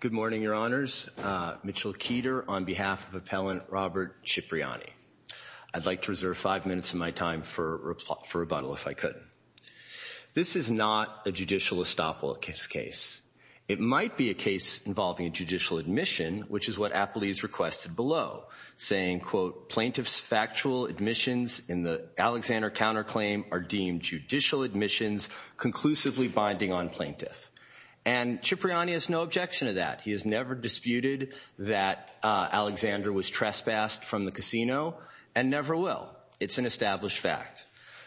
Good morning, Your Honors. Mitchell Keeter on behalf of Appellant Robert Cipriani. I'd like to reserve five minutes of my time for rebuttal if I could. This is not a judicial estoppel case. It might be a case involving a judicial admission, which is what Appleby's requested below, saying, quote, plaintiff's factual admissions in the Alexander counterclaim are deemed judicial admissions conclusively binding on plaintiff. And Cipriani has no objection to that. He has never disputed that Alexander was trespassed from the casino and never will. It's an established fact.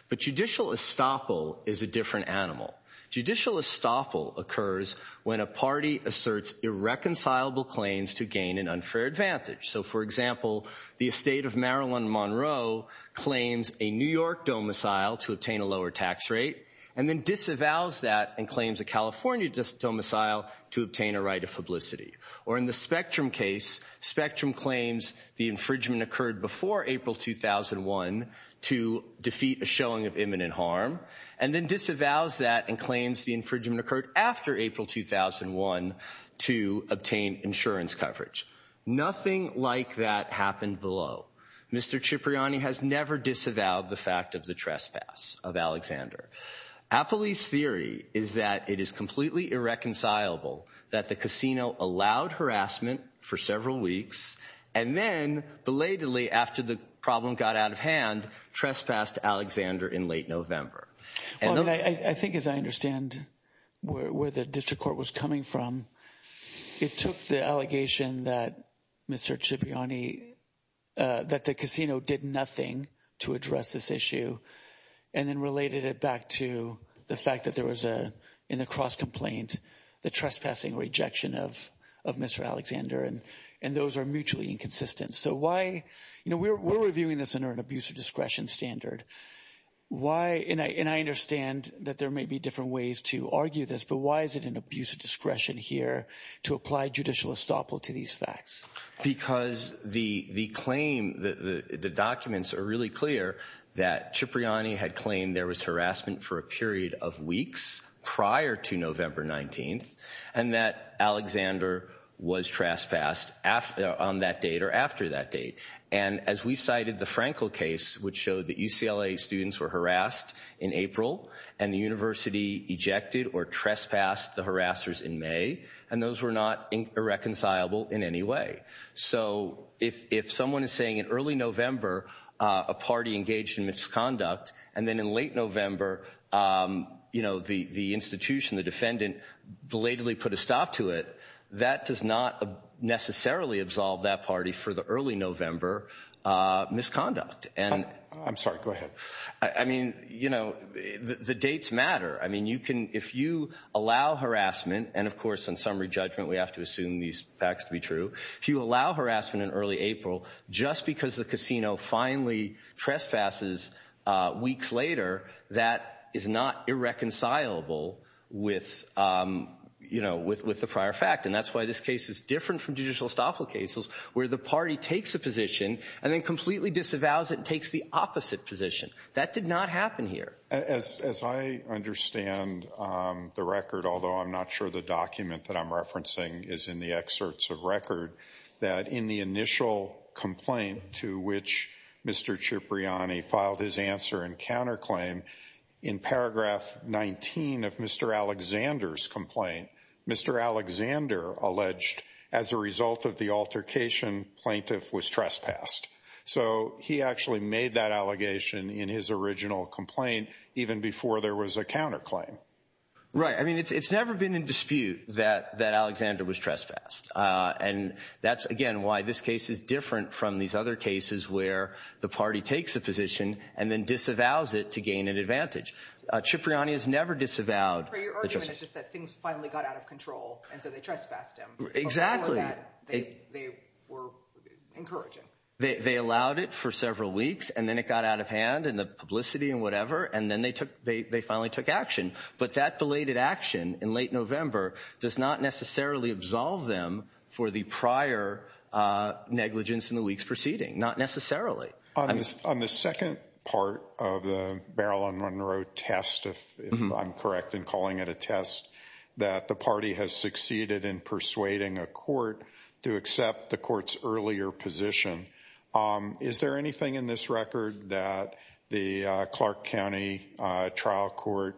But judicial estoppel is a different animal. Judicial estoppel occurs when a party asserts irreconcilable claims to gain an unfair advantage. So, for example, the estate of Marilyn Monroe claims a New York domicile to obtain a lower tax rate and then disavows that and claims a California domicile to obtain a right of publicity. Or in the Spectrum case, Spectrum claims the infringement occurred before April 2001 to defeat a showing of imminent harm and then disavows that and claims the infringement occurred after April 2001 to obtain insurance coverage. Nothing like that happened below. Mr. Cipriani has never disavowed the fact of the trespass of Alexander. Appleby's theory is that it is completely irreconcilable that the casino allowed harassment for several weeks and then, belatedly, after the problem got out of hand, trespassed Alexander in late November. I think as I understand where the district court was coming from, it took the allegation that Mr. Cipriani, that the casino did nothing to address this issue and then related it back to the fact that there was, in the cross-complaint, the trespassing rejection of Mr. Alexander and those are mutually inconsistent. So why, you know, we're reviewing this under an abuse of discretion standard. Why, and I understand that there may be different ways to argue this, but why is it an abuse of discretion here to apply judicial estoppel to these facts? Because the claim, the documents are really clear that Cipriani had claimed there was harassment for a period of weeks prior to November 19th and that Alexander was trespassed on that date or after that date. And as we cited the Frankel case, which showed that UCLA students were harassed in April and the university ejected or trespassed the harassers in May and those were not irreconcilable in any way. So if someone is saying in early November a party engaged in misconduct and then in late November, you know, the institution, the defendant, belatedly put a stop to it, that does not necessarily absolve that party for the early November misconduct. I'm sorry, go ahead. I mean, you know, the dates matter. I mean, if you allow harassment, and of course in summary judgment we have to assume these facts to be true, if you allow harassment in early April, just because the casino finally trespasses weeks later, that is not irreconcilable with, you know, with the prior fact. And that's why this case is different from judicial estoppel cases, where the party takes a position and then completely disavows it and takes the opposite position. That did not happen here. As I understand the record, although I'm not sure the document that I'm referencing is in the excerpts of record, that in the initial complaint to which Mr. Cipriani filed his answer and counterclaim, in paragraph 19 of Mr. Alexander's complaint, Mr. Alexander alleged, as a result of the altercation, plaintiff was trespassed. So he actually made that allegation in his original complaint even before there was a counterclaim. Right. I mean, it's never been in dispute that Alexander was trespassed. And that's, again, why this case is different from these other cases where the party takes a position and then disavows it to gain an advantage. Cipriani has never disavowed. But your argument is just that things finally got out of control, and so they trespassed him. Exactly. They were encouraging. They allowed it for several weeks, and then it got out of hand in the publicity and whatever, and then they finally took action. But that delayed action in late November does not necessarily absolve them for the prior negligence in the week's proceeding. Not necessarily. On the second part of the barrel-on-one-row test, if I'm correct in calling it a test, that the party has succeeded in persuading a court to accept the court's earlier position, is there anything in this record that the Clark County Trial Court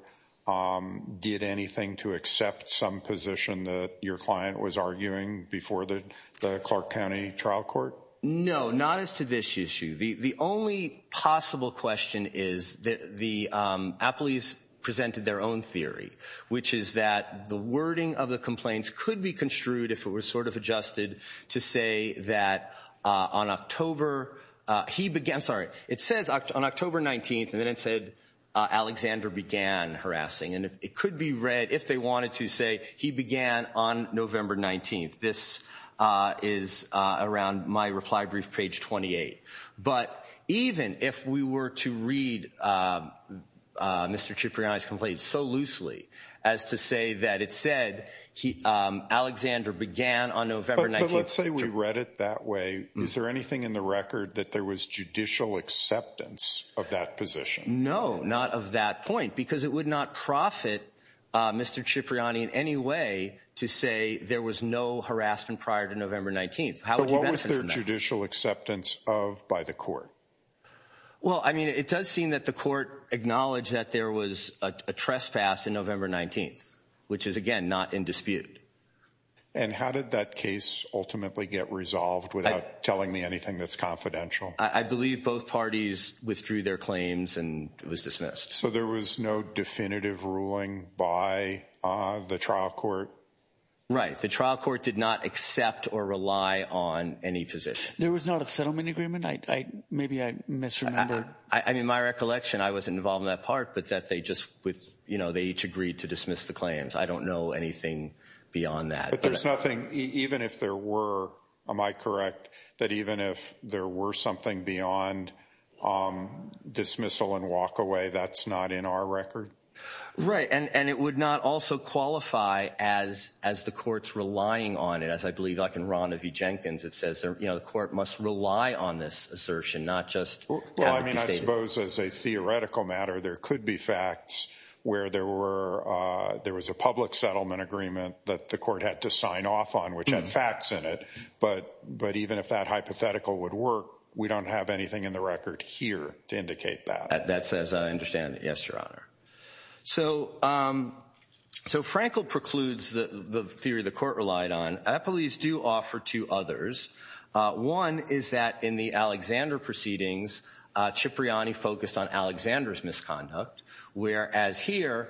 did anything to accept some position that your client was arguing before the Clark County Trial Court? No, not as to this issue. The only possible question is the appellees presented their own theory, which is that the wording of the complaints could be construed if it were sort of adjusted to say that on October 19th, and then it said Alexander began harassing. And it could be read if they wanted to say he began on November 19th. This is around my reply brief, page 28. But even if we were to read Mr. Cipriani's complaint so loosely as to say that it said Alexander began on November 19th. But let's say we read it that way. Is there anything in the record that there was judicial acceptance of that position? No, not of that point, because it would not profit Mr. Cipriani in any way to say there was no harassment prior to November 19th. But what was their judicial acceptance of by the court? Well, I mean, it does seem that the court acknowledged that there was a trespass on November 19th, which is, again, not in dispute. And how did that case ultimately get resolved without telling me anything that's confidential? I believe both parties withdrew their claims and it was dismissed. So there was no definitive ruling by the trial court? Right. The trial court did not accept or rely on any position. There was not a settlement agreement? Maybe I misremembered. I mean, my recollection, I wasn't involved in that part, but that they each agreed to dismiss the claims. I don't know anything beyond that. But there's nothing, even if there were, am I correct, that even if there were something beyond dismissal and walk away, that's not in our record? Right. And it would not also qualify as the court's relying on it, as I believe like in Ron V. Jenkins, it says the court must rely on this assertion, not just have it be stated. Well, I mean, I suppose as a theoretical matter, there could be facts where there was a public settlement agreement that the court had to sign off on, which had facts in it. But even if that hypothetical would work, we don't have anything in the record here to indicate that. That's as I understand it. Yes, Your Honor. So Frankel precludes the theory the court relied on. The police do offer two others. One is that in the Alexander proceedings, Cipriani focused on Alexander's misconduct, whereas here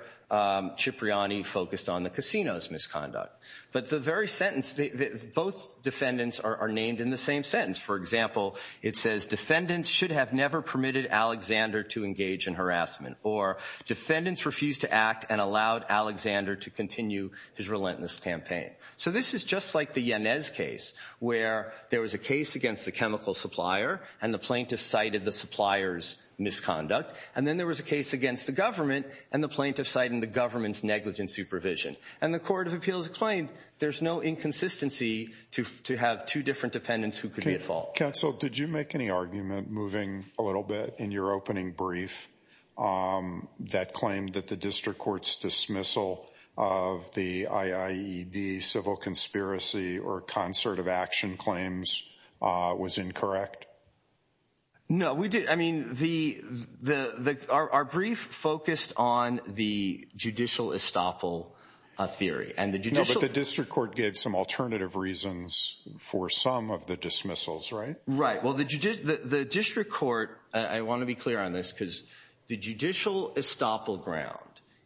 Cipriani focused on the casino's misconduct. But the very sentence, both defendants are named in the same sentence. For example, it says defendants should have never permitted Alexander to engage in harassment, or defendants refused to act and allowed Alexander to continue his relentless campaign. So this is just like the Yanez case, where there was a case against the chemical supplier and the plaintiff cited the supplier's misconduct, and then there was a case against the government and the plaintiff cited the government's negligent supervision. And the Court of Appeals claimed there's no inconsistency to have two different defendants who could be at fault. Counsel, did you make any argument moving a little bit in your opening brief that claimed that the district court's dismissal of the IAED civil conspiracy or concert of action claims was incorrect? No, we didn't. I mean, our brief focused on the judicial estoppel theory. No, but the district court gave some alternative reasons for some of the dismissals, right? Right. Well, the district court, I want to be clear on this, because the judicial estoppel ground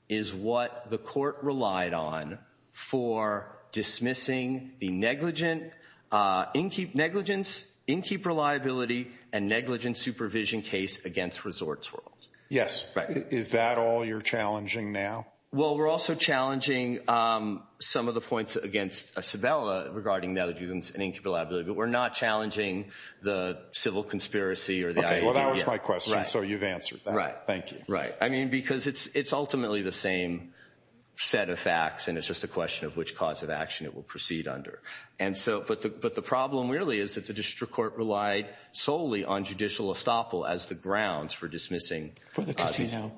is what the court relied on for dismissing the negligence, in-keep reliability and negligence supervision case against Resorts World. Yes. Is that all you're challenging now? Well, we're also challenging some of the points against Sabella regarding negligence and in-keep reliability, but we're not challenging the civil conspiracy or the IAED. Okay, well, that was my question, so you've answered that. Thank you. Right, right. I mean, because it's ultimately the same set of facts, and it's just a question of which cause of action it will proceed under. And so, but the problem really is that the district court relied solely on judicial estoppel as the grounds for dismissing. For the casino.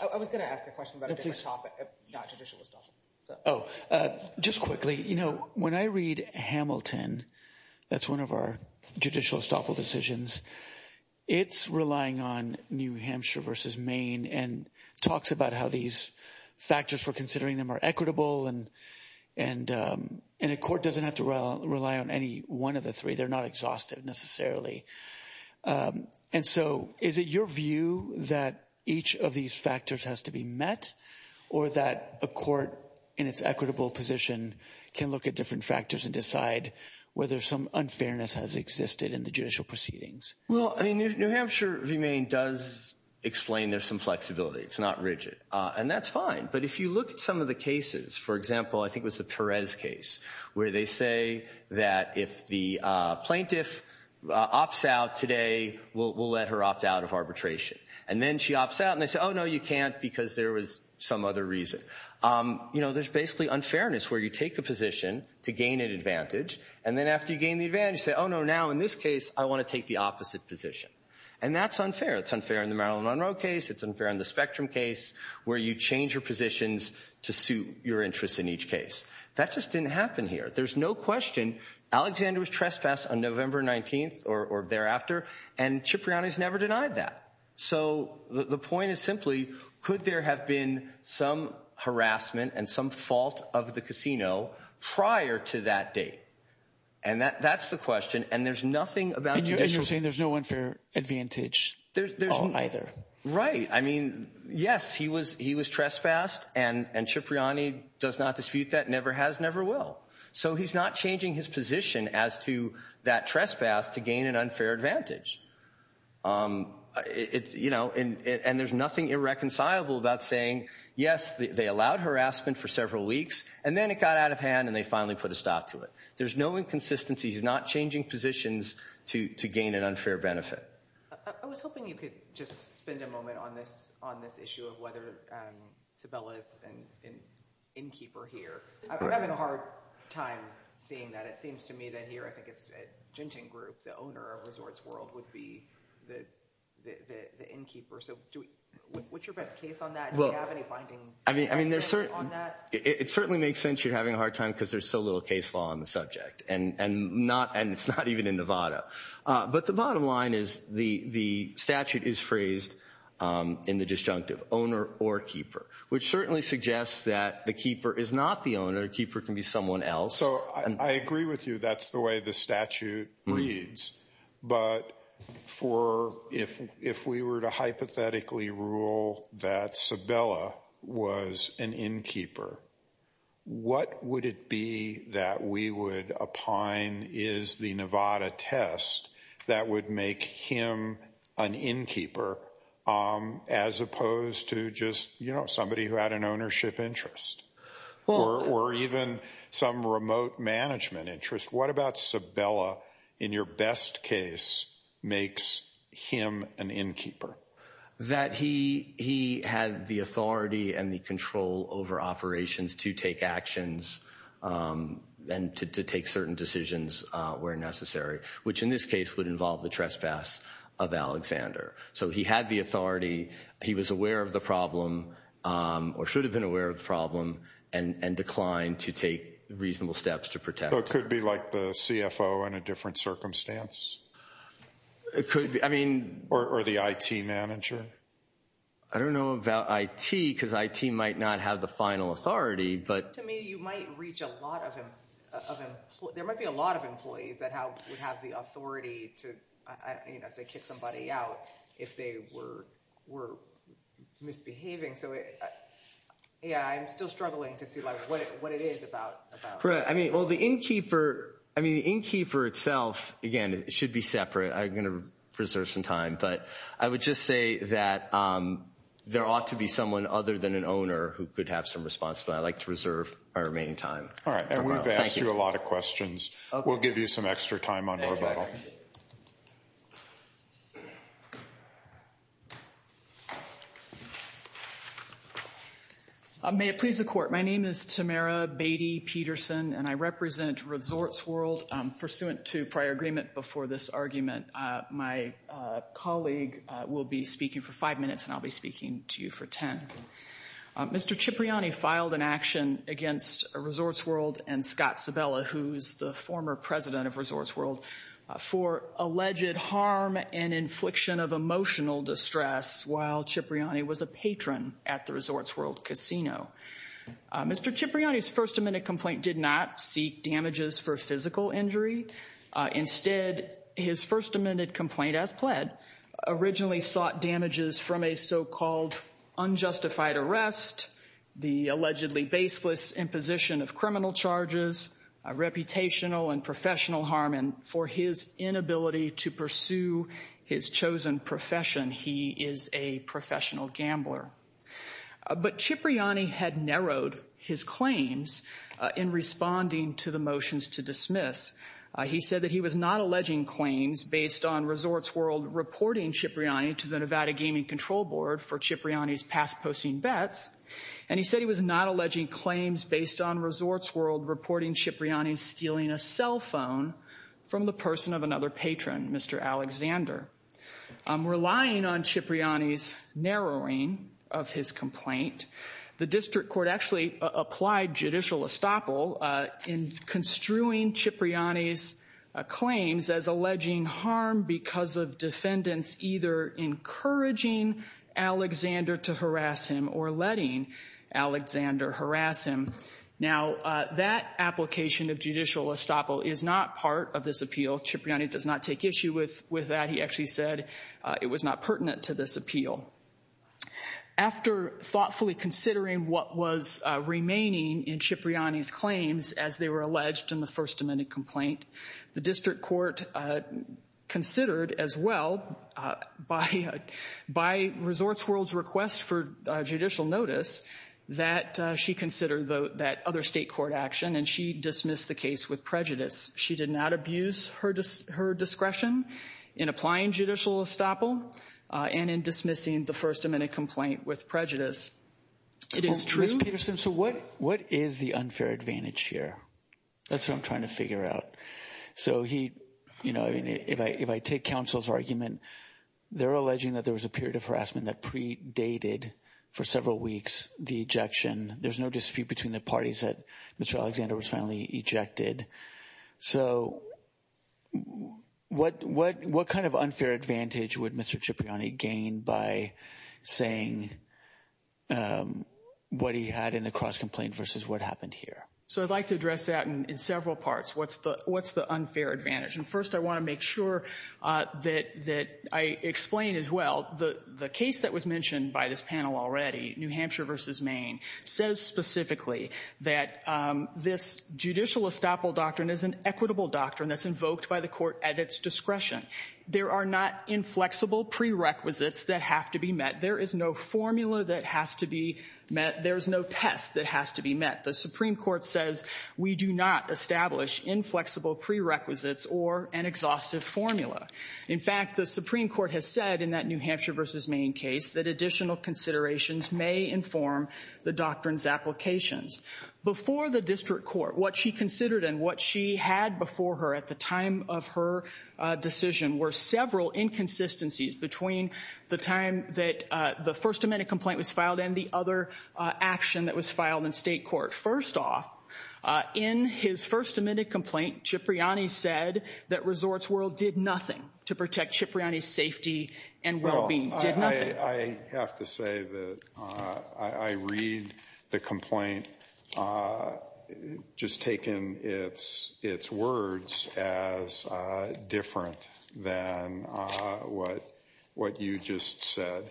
I was going to ask a question about a different topic, not judicial estoppel. Oh, just quickly, you know, when I read Hamilton, that's one of our judicial estoppel decisions, it's relying on New Hampshire versus Maine and talks about how these factors, we're considering them are equitable and a court doesn't have to rely on any one of the three. They're not exhaustive necessarily. And so is it your view that each of these factors has to be met or that a court in its equitable position can look at different factors and decide whether some unfairness has existed in the judicial proceedings? Well, I mean, New Hampshire v. Maine does explain there's some flexibility. It's not rigid, and that's fine. But if you look at some of the cases, for example, I think it was the Perez case, where they say that if the plaintiff opts out today, we'll let her opt out of arbitration. And then she opts out, and they say, oh, no, you can't, because there was some other reason. You know, there's basically unfairness where you take a position to gain an advantage, and then after you gain the advantage, you say, oh, no, now in this case I want to take the opposite position. And that's unfair. It's unfair in the Marilyn Monroe case, it's unfair in the Spectrum case, where you change your positions to suit your interests in each case. That just didn't happen here. There's no question. Alexander was trespassed on November 19th or thereafter, and Cipriani's never denied that. So the point is simply, could there have been some harassment and some fault of the casino prior to that date? And that's the question, and there's nothing about judicial— And you're saying there's no unfair advantage at all either. Right. I mean, yes, he was trespassed, and Cipriani does not dispute that, never has, never will. So he's not changing his position as to that trespass to gain an unfair advantage. You know, and there's nothing irreconcilable about saying, yes, they allowed harassment for several weeks, and then it got out of hand and they finally put a stop to it. There's no inconsistency. He's not changing positions to gain an unfair benefit. I was hoping you could just spend a moment on this issue of whether Sabella is an innkeeper here. I'm having a hard time seeing that. It seems to me that here, I think it's Genting Group, the owner of Resorts World, would be the innkeeper. So what's your best case on that? Do you have any binding evidence on that? It certainly makes sense you're having a hard time because there's so little case law on the subject, and it's not even in Nevada. But the bottom line is the statute is phrased in the disjunctive, owner or keeper, which certainly suggests that the keeper is not the owner. The keeper can be someone else. So I agree with you. That's the way the statute reads. But if we were to hypothetically rule that Sabella was an innkeeper, what would it be that we would opine is the Nevada test that would make him an innkeeper, as opposed to just somebody who had an ownership interest or even some remote management interest? What about Sabella, in your best case, makes him an innkeeper? That he had the authority and the control over operations to take actions and to take certain decisions where necessary, which in this case would involve the trespass of Alexander. So he had the authority. He was aware of the problem or should have been aware of the problem and declined to take reasonable steps to protect. So it could be like the CFO in a different circumstance? Or the IT manager? I don't know about IT, because IT might not have the final authority. To me, you might reach a lot of employees. There might be a lot of employees that would have the authority to, say, kick somebody out if they were misbehaving. So, yeah, I'm still struggling to see what it is about. Right. Well, the innkeeper itself, again, should be separate. I'm going to reserve some time. But I would just say that there ought to be someone other than an owner who could have some responsibility. I'd like to reserve my remaining time. All right. And we've asked you a lot of questions. We'll give you some extra time on rebuttal. May it please the Court. My name is Tamara Beatty-Peterson, and I represent Resorts World. Pursuant to prior agreement before this argument, my colleague will be speaking for five minutes, and I'll be speaking to you for ten. Mr. Cipriani filed an action against Resorts World and Scott Sabella, who's the former president of Resorts World, for alleged harm and infliction of emotional distress while Cipriani was a patron at the Resorts World casino. Mr. Cipriani's first amendment complaint did not seek damages for physical injury. Instead, his first amendment complaint, as pled, originally sought damages from a so-called unjustified arrest, the allegedly baseless imposition of criminal charges, reputational and professional harm, and for his inability to pursue his chosen profession. He is a professional gambler. But Cipriani had narrowed his claims in responding to the motions to dismiss. He said that he was not alleging claims based on Resorts World reporting Cipriani to the Nevada Gaming Control Board for Cipriani's past posting bets. And he said he was not alleging claims based on Resorts World reporting Cipriani stealing a cell phone from the person of another patron, Mr. Alexander. Relying on Cipriani's narrowing of his complaint, the district court actually applied judicial estoppel in construing Cipriani's claims as alleging harm because of defendants either encouraging Alexander to harass him or letting Alexander harass him. Now, that application of judicial estoppel is not part of this appeal. Cipriani does not take issue with that. He actually said it was not pertinent to this appeal. After thoughtfully considering what was remaining in Cipriani's claims as they were alleged in the First Amendment complaint, the district court considered as well by Resorts World's request for judicial notice that she consider that other state court action and she dismissed the case with prejudice. She did not abuse her discretion in applying judicial estoppel and in dismissing the First Amendment complaint with prejudice. It is true. So what is the unfair advantage here? That's what I'm trying to figure out. So he, you know, if I take counsel's argument, they're alleging that there was a period of harassment that predated for several weeks the ejection. There's no dispute between the parties that Mr. Alexander was finally ejected. So what kind of unfair advantage would Mr. Cipriani gain by saying what he had in the cross complaint versus what happened here? So I'd like to address that in several parts. What's the unfair advantage? First, I want to make sure that I explain as well the case that was mentioned by this panel already, New Hampshire v. Maine, says specifically that this judicial estoppel doctrine is an equitable doctrine that's invoked by the court at its discretion. There are not inflexible prerequisites that have to be met. There is no formula that has to be met. There's no test that has to be met. The Supreme Court says we do not establish inflexible prerequisites or an exhaustive formula. In fact, the Supreme Court has said in that New Hampshire v. Maine case that additional considerations may inform the doctrine's applications. Before the district court, what she considered and what she had before her at the time of her decision were several inconsistencies between the time that the other action that was filed in state court. First off, in his first admitted complaint, Cipriani said that Resorts World did nothing to protect Cipriani's safety and well-being. Did nothing. I have to say that I read the complaint just taking its words as different than what you just said.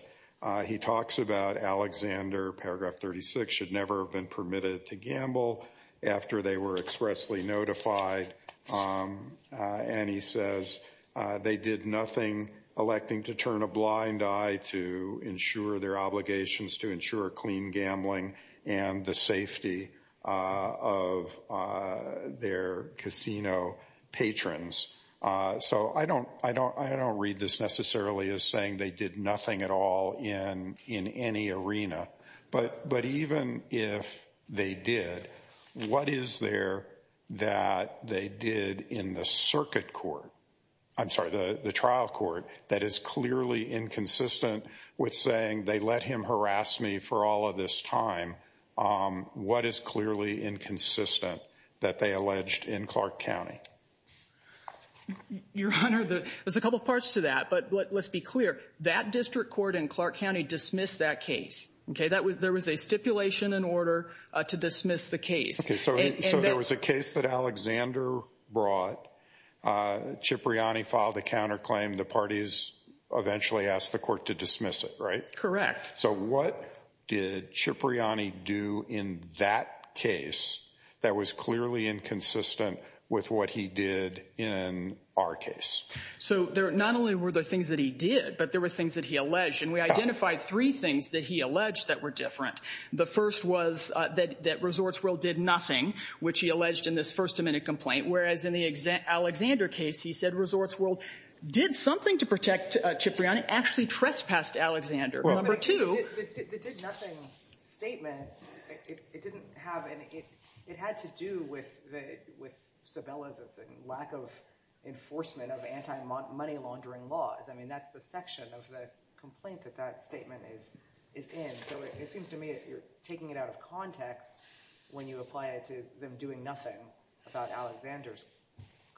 He talks about Alexander, paragraph 36, should never have been permitted to gamble after they were expressly notified. And he says they did nothing, electing to turn a blind eye to ensure their obligations to ensure clean gambling and the safety of their casino patrons. So I don't I don't I don't read this necessarily as saying they did nothing at all in in any arena. But but even if they did, what is there that they did in the circuit court? I'm sorry, the trial court that is clearly inconsistent with saying they let him harass me for all of this time. What is clearly inconsistent that they alleged in Clark County? Your Honor, there's a couple of parts to that. But let's be clear, that district court in Clark County dismissed that case. OK, that was there was a stipulation in order to dismiss the case. So there was a case that Alexander brought. Cipriani filed a counterclaim. The parties eventually asked the court to dismiss it. Right. Correct. So what did Cipriani do in that case that was clearly inconsistent with what he did in our case? So there not only were the things that he did, but there were things that he alleged. And we identified three things that he alleged that were different. The first was that that Resorts World did nothing, which he alleged in this first amendment complaint. Whereas in the Alexander case, he said Resorts World did something to protect Cipriani, actually trespassed Alexander. Number two. The did nothing statement, it had to do with Sabella's lack of enforcement of anti-money laundering laws. I mean, that's the section of the complaint that that statement is in. So it seems to me that you're taking it out of context when you apply it to them doing nothing about Alexander's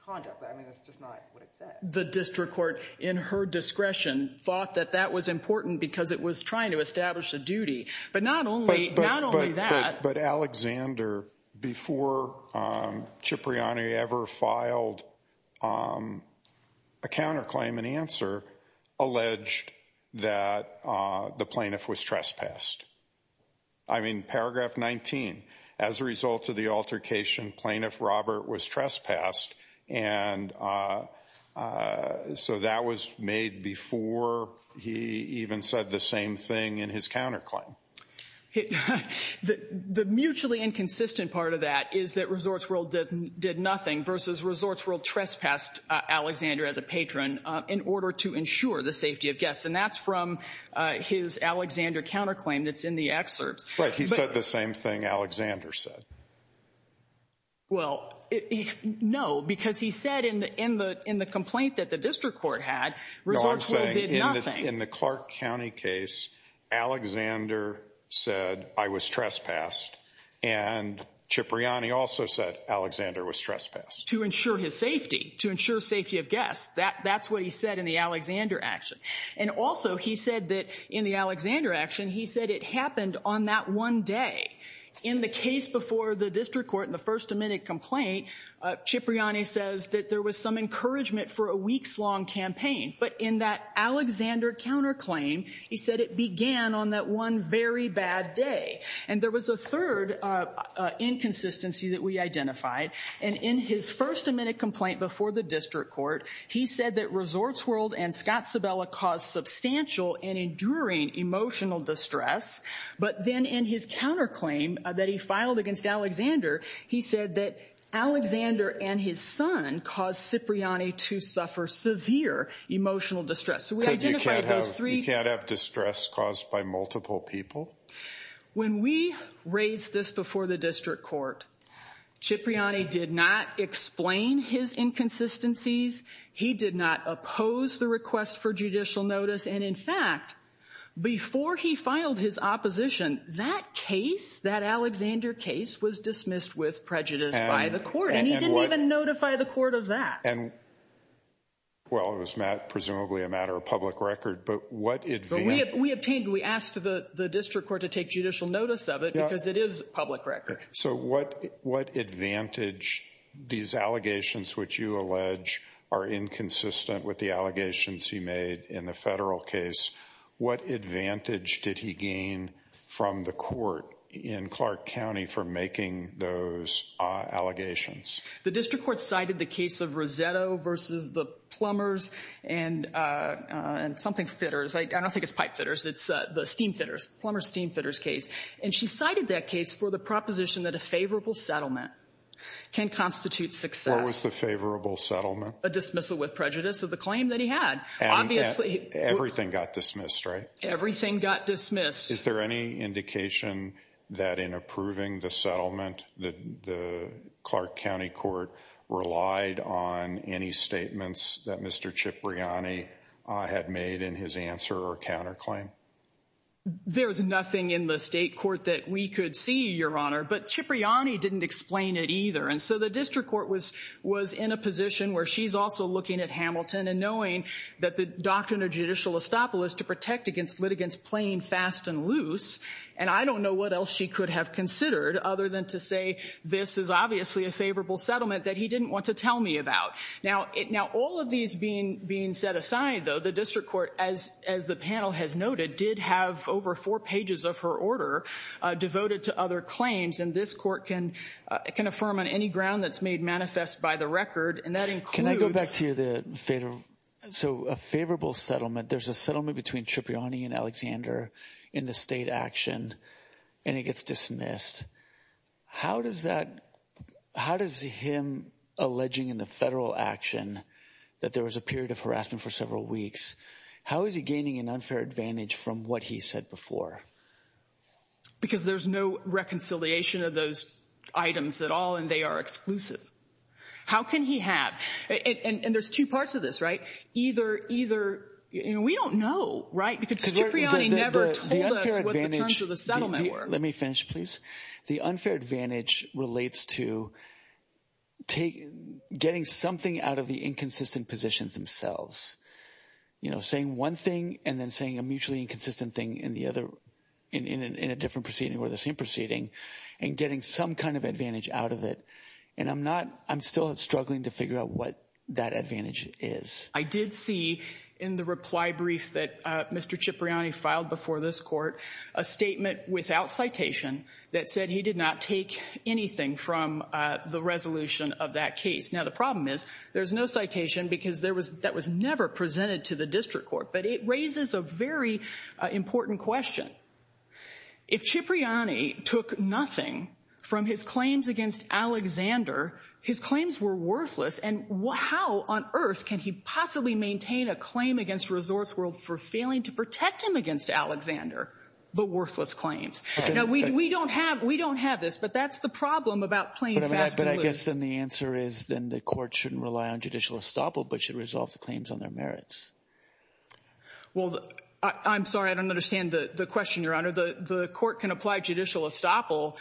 conduct. I mean, that's just not what it said. The district court, in her discretion, thought that that was important because it was trying to establish a duty. But not only that. But Alexander, before Cipriani ever filed a counterclaim and answer, alleged that the plaintiff was trespassed. I mean, paragraph 19. As a result of the altercation, Plaintiff Robert was trespassed. And so that was made before he even said the same thing in his counterclaim. The mutually inconsistent part of that is that Resorts World did nothing versus Resorts World trespassed Alexander as a patron in order to ensure the safety of guests. And that's from his Alexander counterclaim that's in the excerpts. Right. He said the same thing Alexander said. Well, no, because he said in the complaint that the district court had, Resorts World did nothing. In the Clark County case, Alexander said, I was trespassed. And Cipriani also said Alexander was trespassed. To ensure his safety, to ensure safety of guests. That's what he said in the Alexander action. And also he said that in the Alexander action, he said it happened on that one day. In the case before the district court in the first amendment complaint, Cipriani says that there was some encouragement for a week's long campaign. But in that Alexander counterclaim, he said it began on that one very bad day. And there was a third inconsistency that we identified. And in his first amendment complaint before the district court, he said that Resorts World and Scott Sabella caused substantial and enduring emotional distress. But then in his counterclaim that he filed against Alexander, he said that Alexander and his son caused Cipriani to suffer severe emotional distress. You can't have distress caused by multiple people? When we raised this before the district court, Cipriani did not explain his inconsistencies. He did not oppose the request for judicial notice. And in fact, before he filed his opposition, that case, that Alexander case, was dismissed with prejudice by the court. And he didn't even notify the court of that. And well, it was presumably a matter of public record. But we obtained, we asked the district court to take judicial notice of it because it is public record. So what advantage, these allegations which you allege are inconsistent with the allegations he made in the federal case. What advantage did he gain from the court in Clark County for making those allegations? The district court cited the case of Rossetto versus the plumbers and something fitters. I don't think it's pipe fitters. It's the steam fitters, plumber steam fitters case. And she cited that case for the proposition that a favorable settlement can constitute success. What was the favorable settlement? A dismissal with prejudice of the claim that he had. Everything got dismissed, right? Everything got dismissed. Is there any indication that in approving the settlement, the Clark County court relied on any statements that Mr. Cipriani had made in his answer or counterclaim? There's nothing in the state court that we could see, Your Honor. But Cipriani didn't explain it either. And so the district court was in a position where she's also looking at Hamilton and knowing that the doctrine of judicial estoppel is to protect against litigants playing fast and loose. And I don't know what else she could have considered other than to say this is obviously a favorable settlement that he didn't want to tell me about. Now, all of these being set aside, though, the district court, as the panel has noted, did have over four pages of her order devoted to other claims. And this court can can affirm on any ground that's made manifest by the record. And that includes. Can I go back to the federal? So a favorable settlement. There's a settlement between Cipriani and Alexander in the state action and it gets dismissed. How does that how does him alleging in the federal action that there was a period of harassment for several weeks? How is he gaining an unfair advantage from what he said before? Because there's no reconciliation of those items at all and they are exclusive. How can he have it? And there's two parts of this. Either either. We don't know. Right. Because Cipriani never told us what the terms of the settlement were. Let me finish, please. The unfair advantage relates to taking getting something out of the inconsistent positions themselves, you know, saying one thing and then saying a mutually inconsistent thing in the other in a different proceeding or the same proceeding and getting some kind of advantage out of it. And I'm not I'm still struggling to figure out what that advantage is. I did see in the reply brief that Mr. Cipriani filed before this court a statement without citation that said he did not take anything from the resolution of that case. Now, the problem is there's no citation because there was that was never presented to the district court. But it raises a very important question. If Cipriani took nothing from his claims against Alexander, his claims were worthless. And how on earth can he possibly maintain a claim against Resorts World for failing to protect him against Alexander? The worthless claims. Now, we don't have we don't have this, but that's the problem about playing. But I guess then the answer is then the court shouldn't rely on judicial estoppel, but should resolve the claims on their merits. Well, I'm sorry, I don't understand the question, Your Honor. The court can apply judicial estoppel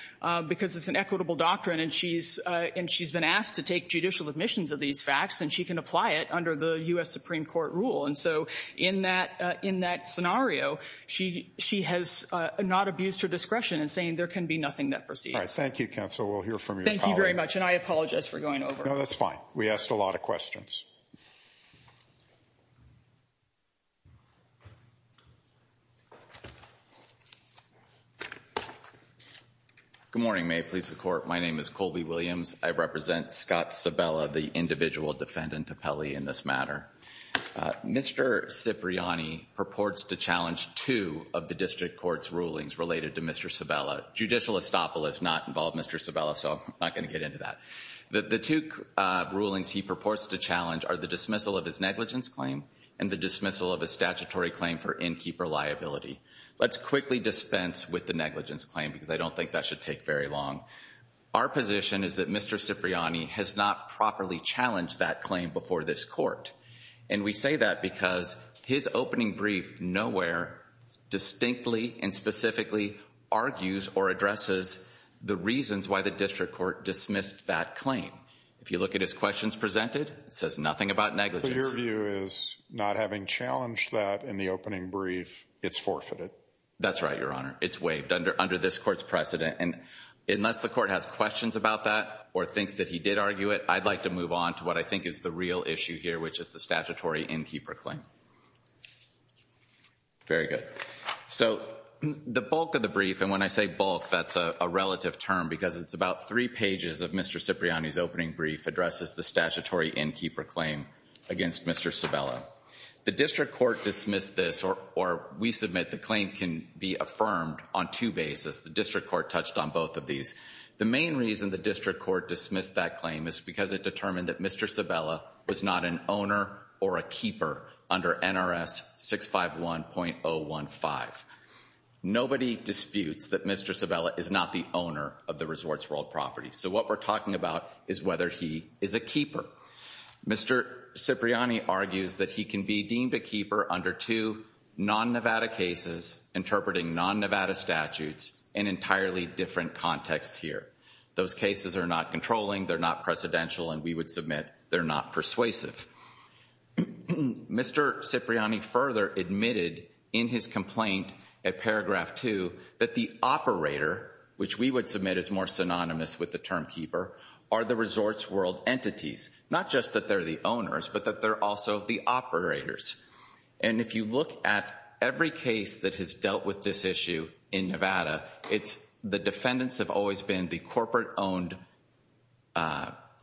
because it's an equitable doctrine and she's and she's been asked to take judicial admissions of these facts and she can apply it under the U.S. Supreme Court rule. And so in that in that scenario, she she has not abused her discretion in saying there can be nothing that precedes. Thank you, counsel. We'll hear from you. Thank you very much. And I apologize for going over. No, that's fine. We asked a lot of questions. Good morning. May it please the court. My name is Colby Williams. I represent Scott Sabella, the individual defendant of Pele in this matter. Mr. Cipriani purports to challenge two of the district court's rulings related to Mr. Sabella. Judicial estoppel is not involved, Mr. Sabella. So I'm not going to get into that. The two rulings he purports to challenge are the dismissal of his negligence claim and the dismissal of a statutory claim for inkeeper liability. Let's quickly dispense with the negligence claim because I don't think that should take very long. Our position is that Mr. Cipriani has not properly challenged that claim before this court. And we say that because his opening brief nowhere distinctly and specifically argues or addresses the reasons why the district court dismissed that claim. If you look at his questions presented, it says nothing about negligence. So your view is not having challenged that in the opening brief, it's forfeited. That's right, Your Honor. It's waived under this court's precedent. And unless the court has questions about that or thinks that he did argue it, I'd like to move on to what I think is the real issue here, which is the statutory inkeeper claim. Very good. So the bulk of the brief, and when I say bulk, that's a relative term because it's about three pages of Mr. Cipriani's opening brief addresses the statutory inkeeper claim against Mr. Sabella. The district court dismissed this, or we submit the claim can be affirmed on two bases. The district court touched on both of these. The main reason the district court dismissed that claim is because it determined that Mr. Sabella was not an owner or a keeper under NRS 651.015. Nobody disputes that Mr. Sabella is not the owner of the resort's world property. So what we're talking about is whether he is a keeper. Mr. Cipriani argues that he can be deemed a keeper under two non-Nevada cases interpreting non-Nevada statutes in entirely different contexts here. Those cases are not controlling, they're not precedential, and we would submit they're not persuasive. Mr. Cipriani further admitted in his complaint at paragraph two that the operator, which we would submit is more synonymous with the term keeper, are the resort's world entities. Not just that they're the owners, but that they're also the operators. And if you look at every case that has dealt with this issue in Nevada, the defendants have always been the corporate-owned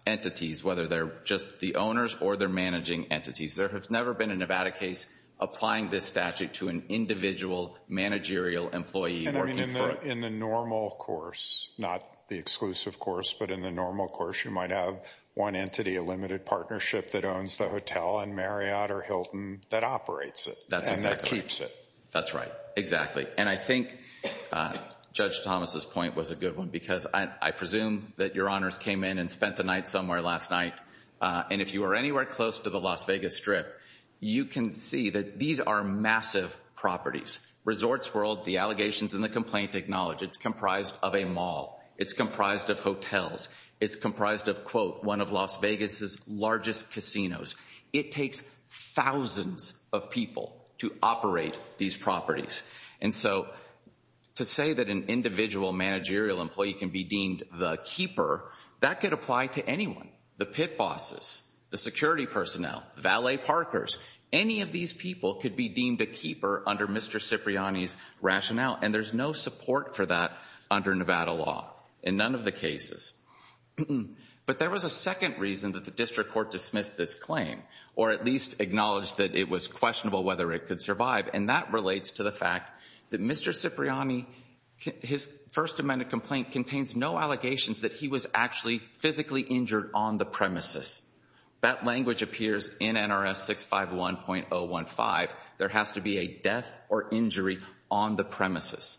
entities, whether they're just the owners or they're managing entities. There has never been a Nevada case applying this statute to an individual managerial employee or keeper. So in the normal course, not the exclusive course, but in the normal course, you might have one entity, a limited partnership that owns the hotel in Marriott or Hilton that operates it. And that keeps it. That's right. Exactly. And I think Judge Thomas's point was a good one because I presume that your honors came in and spent the night somewhere last night. And if you are anywhere close to the Las Vegas Strip, you can see that these are massive properties. Resort's world, the allegations in the complaint acknowledge it's comprised of a mall. It's comprised of hotels. It's comprised of, quote, one of Las Vegas's largest casinos. It takes thousands of people to operate these properties. And so to say that an individual managerial employee can be deemed the keeper, that could apply to anyone. The pit bosses, the security personnel, valet parkers, any of these people could be deemed a keeper under Mr. Cipriani's rationale. And there's no support for that under Nevada law in none of the cases. But there was a second reason that the district court dismissed this claim or at least acknowledged that it was questionable whether it could survive. And that relates to the fact that Mr. Cipriani, his first amendment complaint, contains no allegations that he was actually physically injured on the premises. That language appears in NRS 651.015. There has to be a death or injury on the premises.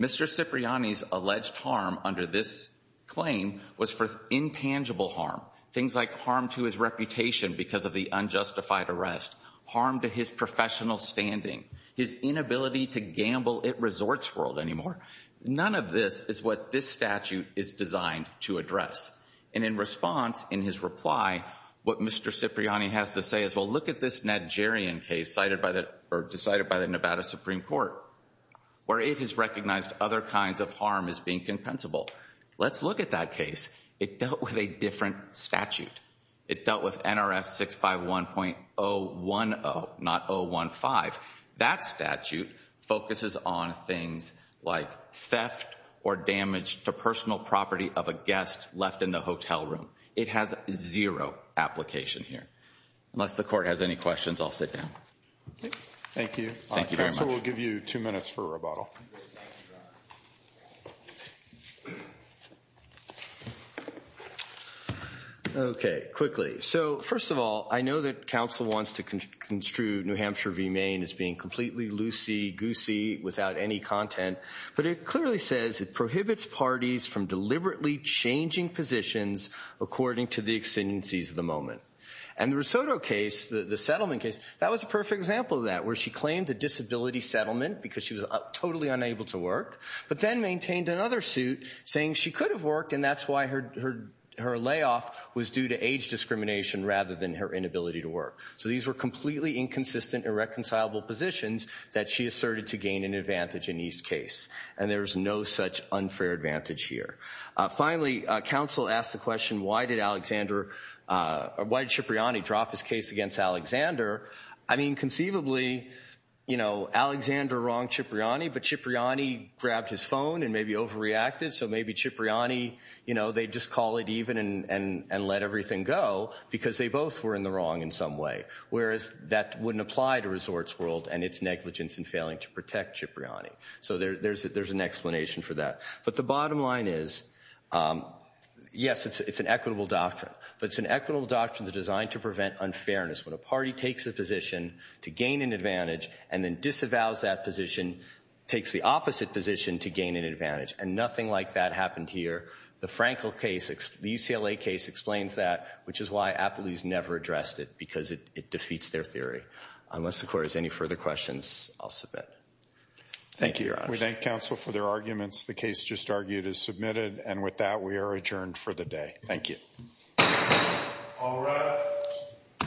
Mr. Cipriani's alleged harm under this claim was for intangible harm. Things like harm to his reputation because of the unjustified arrest. Harm to his professional standing. His inability to gamble at Resort's world anymore. None of this is what this statute is designed to address. And in response, in his reply, what Mr. Cipriani has to say is, well, look at this Nigerian case decided by the Nevada Supreme Court. Where it has recognized other kinds of harm as being compensable. Let's look at that case. It dealt with a different statute. It dealt with NRS 651.010, not 015. That statute focuses on things like theft or damage to personal property of a guest left in the hotel room. It has zero application here. Unless the court has any questions, I'll sit down. Thank you. Thank you very much. Council will give you two minutes for rebuttal. Okay, quickly. So, first of all, I know that council wants to construe New Hampshire v. Maine as being completely loosey-goosey without any content. But it clearly says it prohibits parties from deliberately changing positions according to the exigencies of the moment. And the Risotto case, the settlement case, that was a perfect example of that. Where she claimed a disability settlement because she was totally unable to work. But then maintained another suit saying she could have worked, and that's why her layoff was due to age discrimination rather than her inability to work. So these were completely inconsistent, irreconcilable positions that she asserted to gain an advantage in each case. And there's no such unfair advantage here. Finally, council asked the question, why did Alexander, why did Cipriani drop his case against Alexander? I mean, conceivably, you know, Alexander wronged Cipriani, but Cipriani grabbed his phone and maybe overreacted. So maybe Cipriani, you know, they'd just call it even and let everything go because they both were in the wrong in some way. Whereas that wouldn't apply to Resorts World and its negligence in failing to protect Cipriani. So there's an explanation for that. But the bottom line is, yes, it's an equitable doctrine. But it's an equitable doctrine designed to prevent unfairness. When a party takes a position to gain an advantage and then disavows that position, takes the opposite position to gain an advantage. And nothing like that happened here. The Frankel case, the UCLA case explains that, which is why Appleby's never addressed it because it defeats their theory. Unless the court has any further questions, I'll submit. Thank you, Your Honor. We thank counsel for their arguments. The case just argued is submitted. And with that, we are adjourned for the day. Thank you. All rise.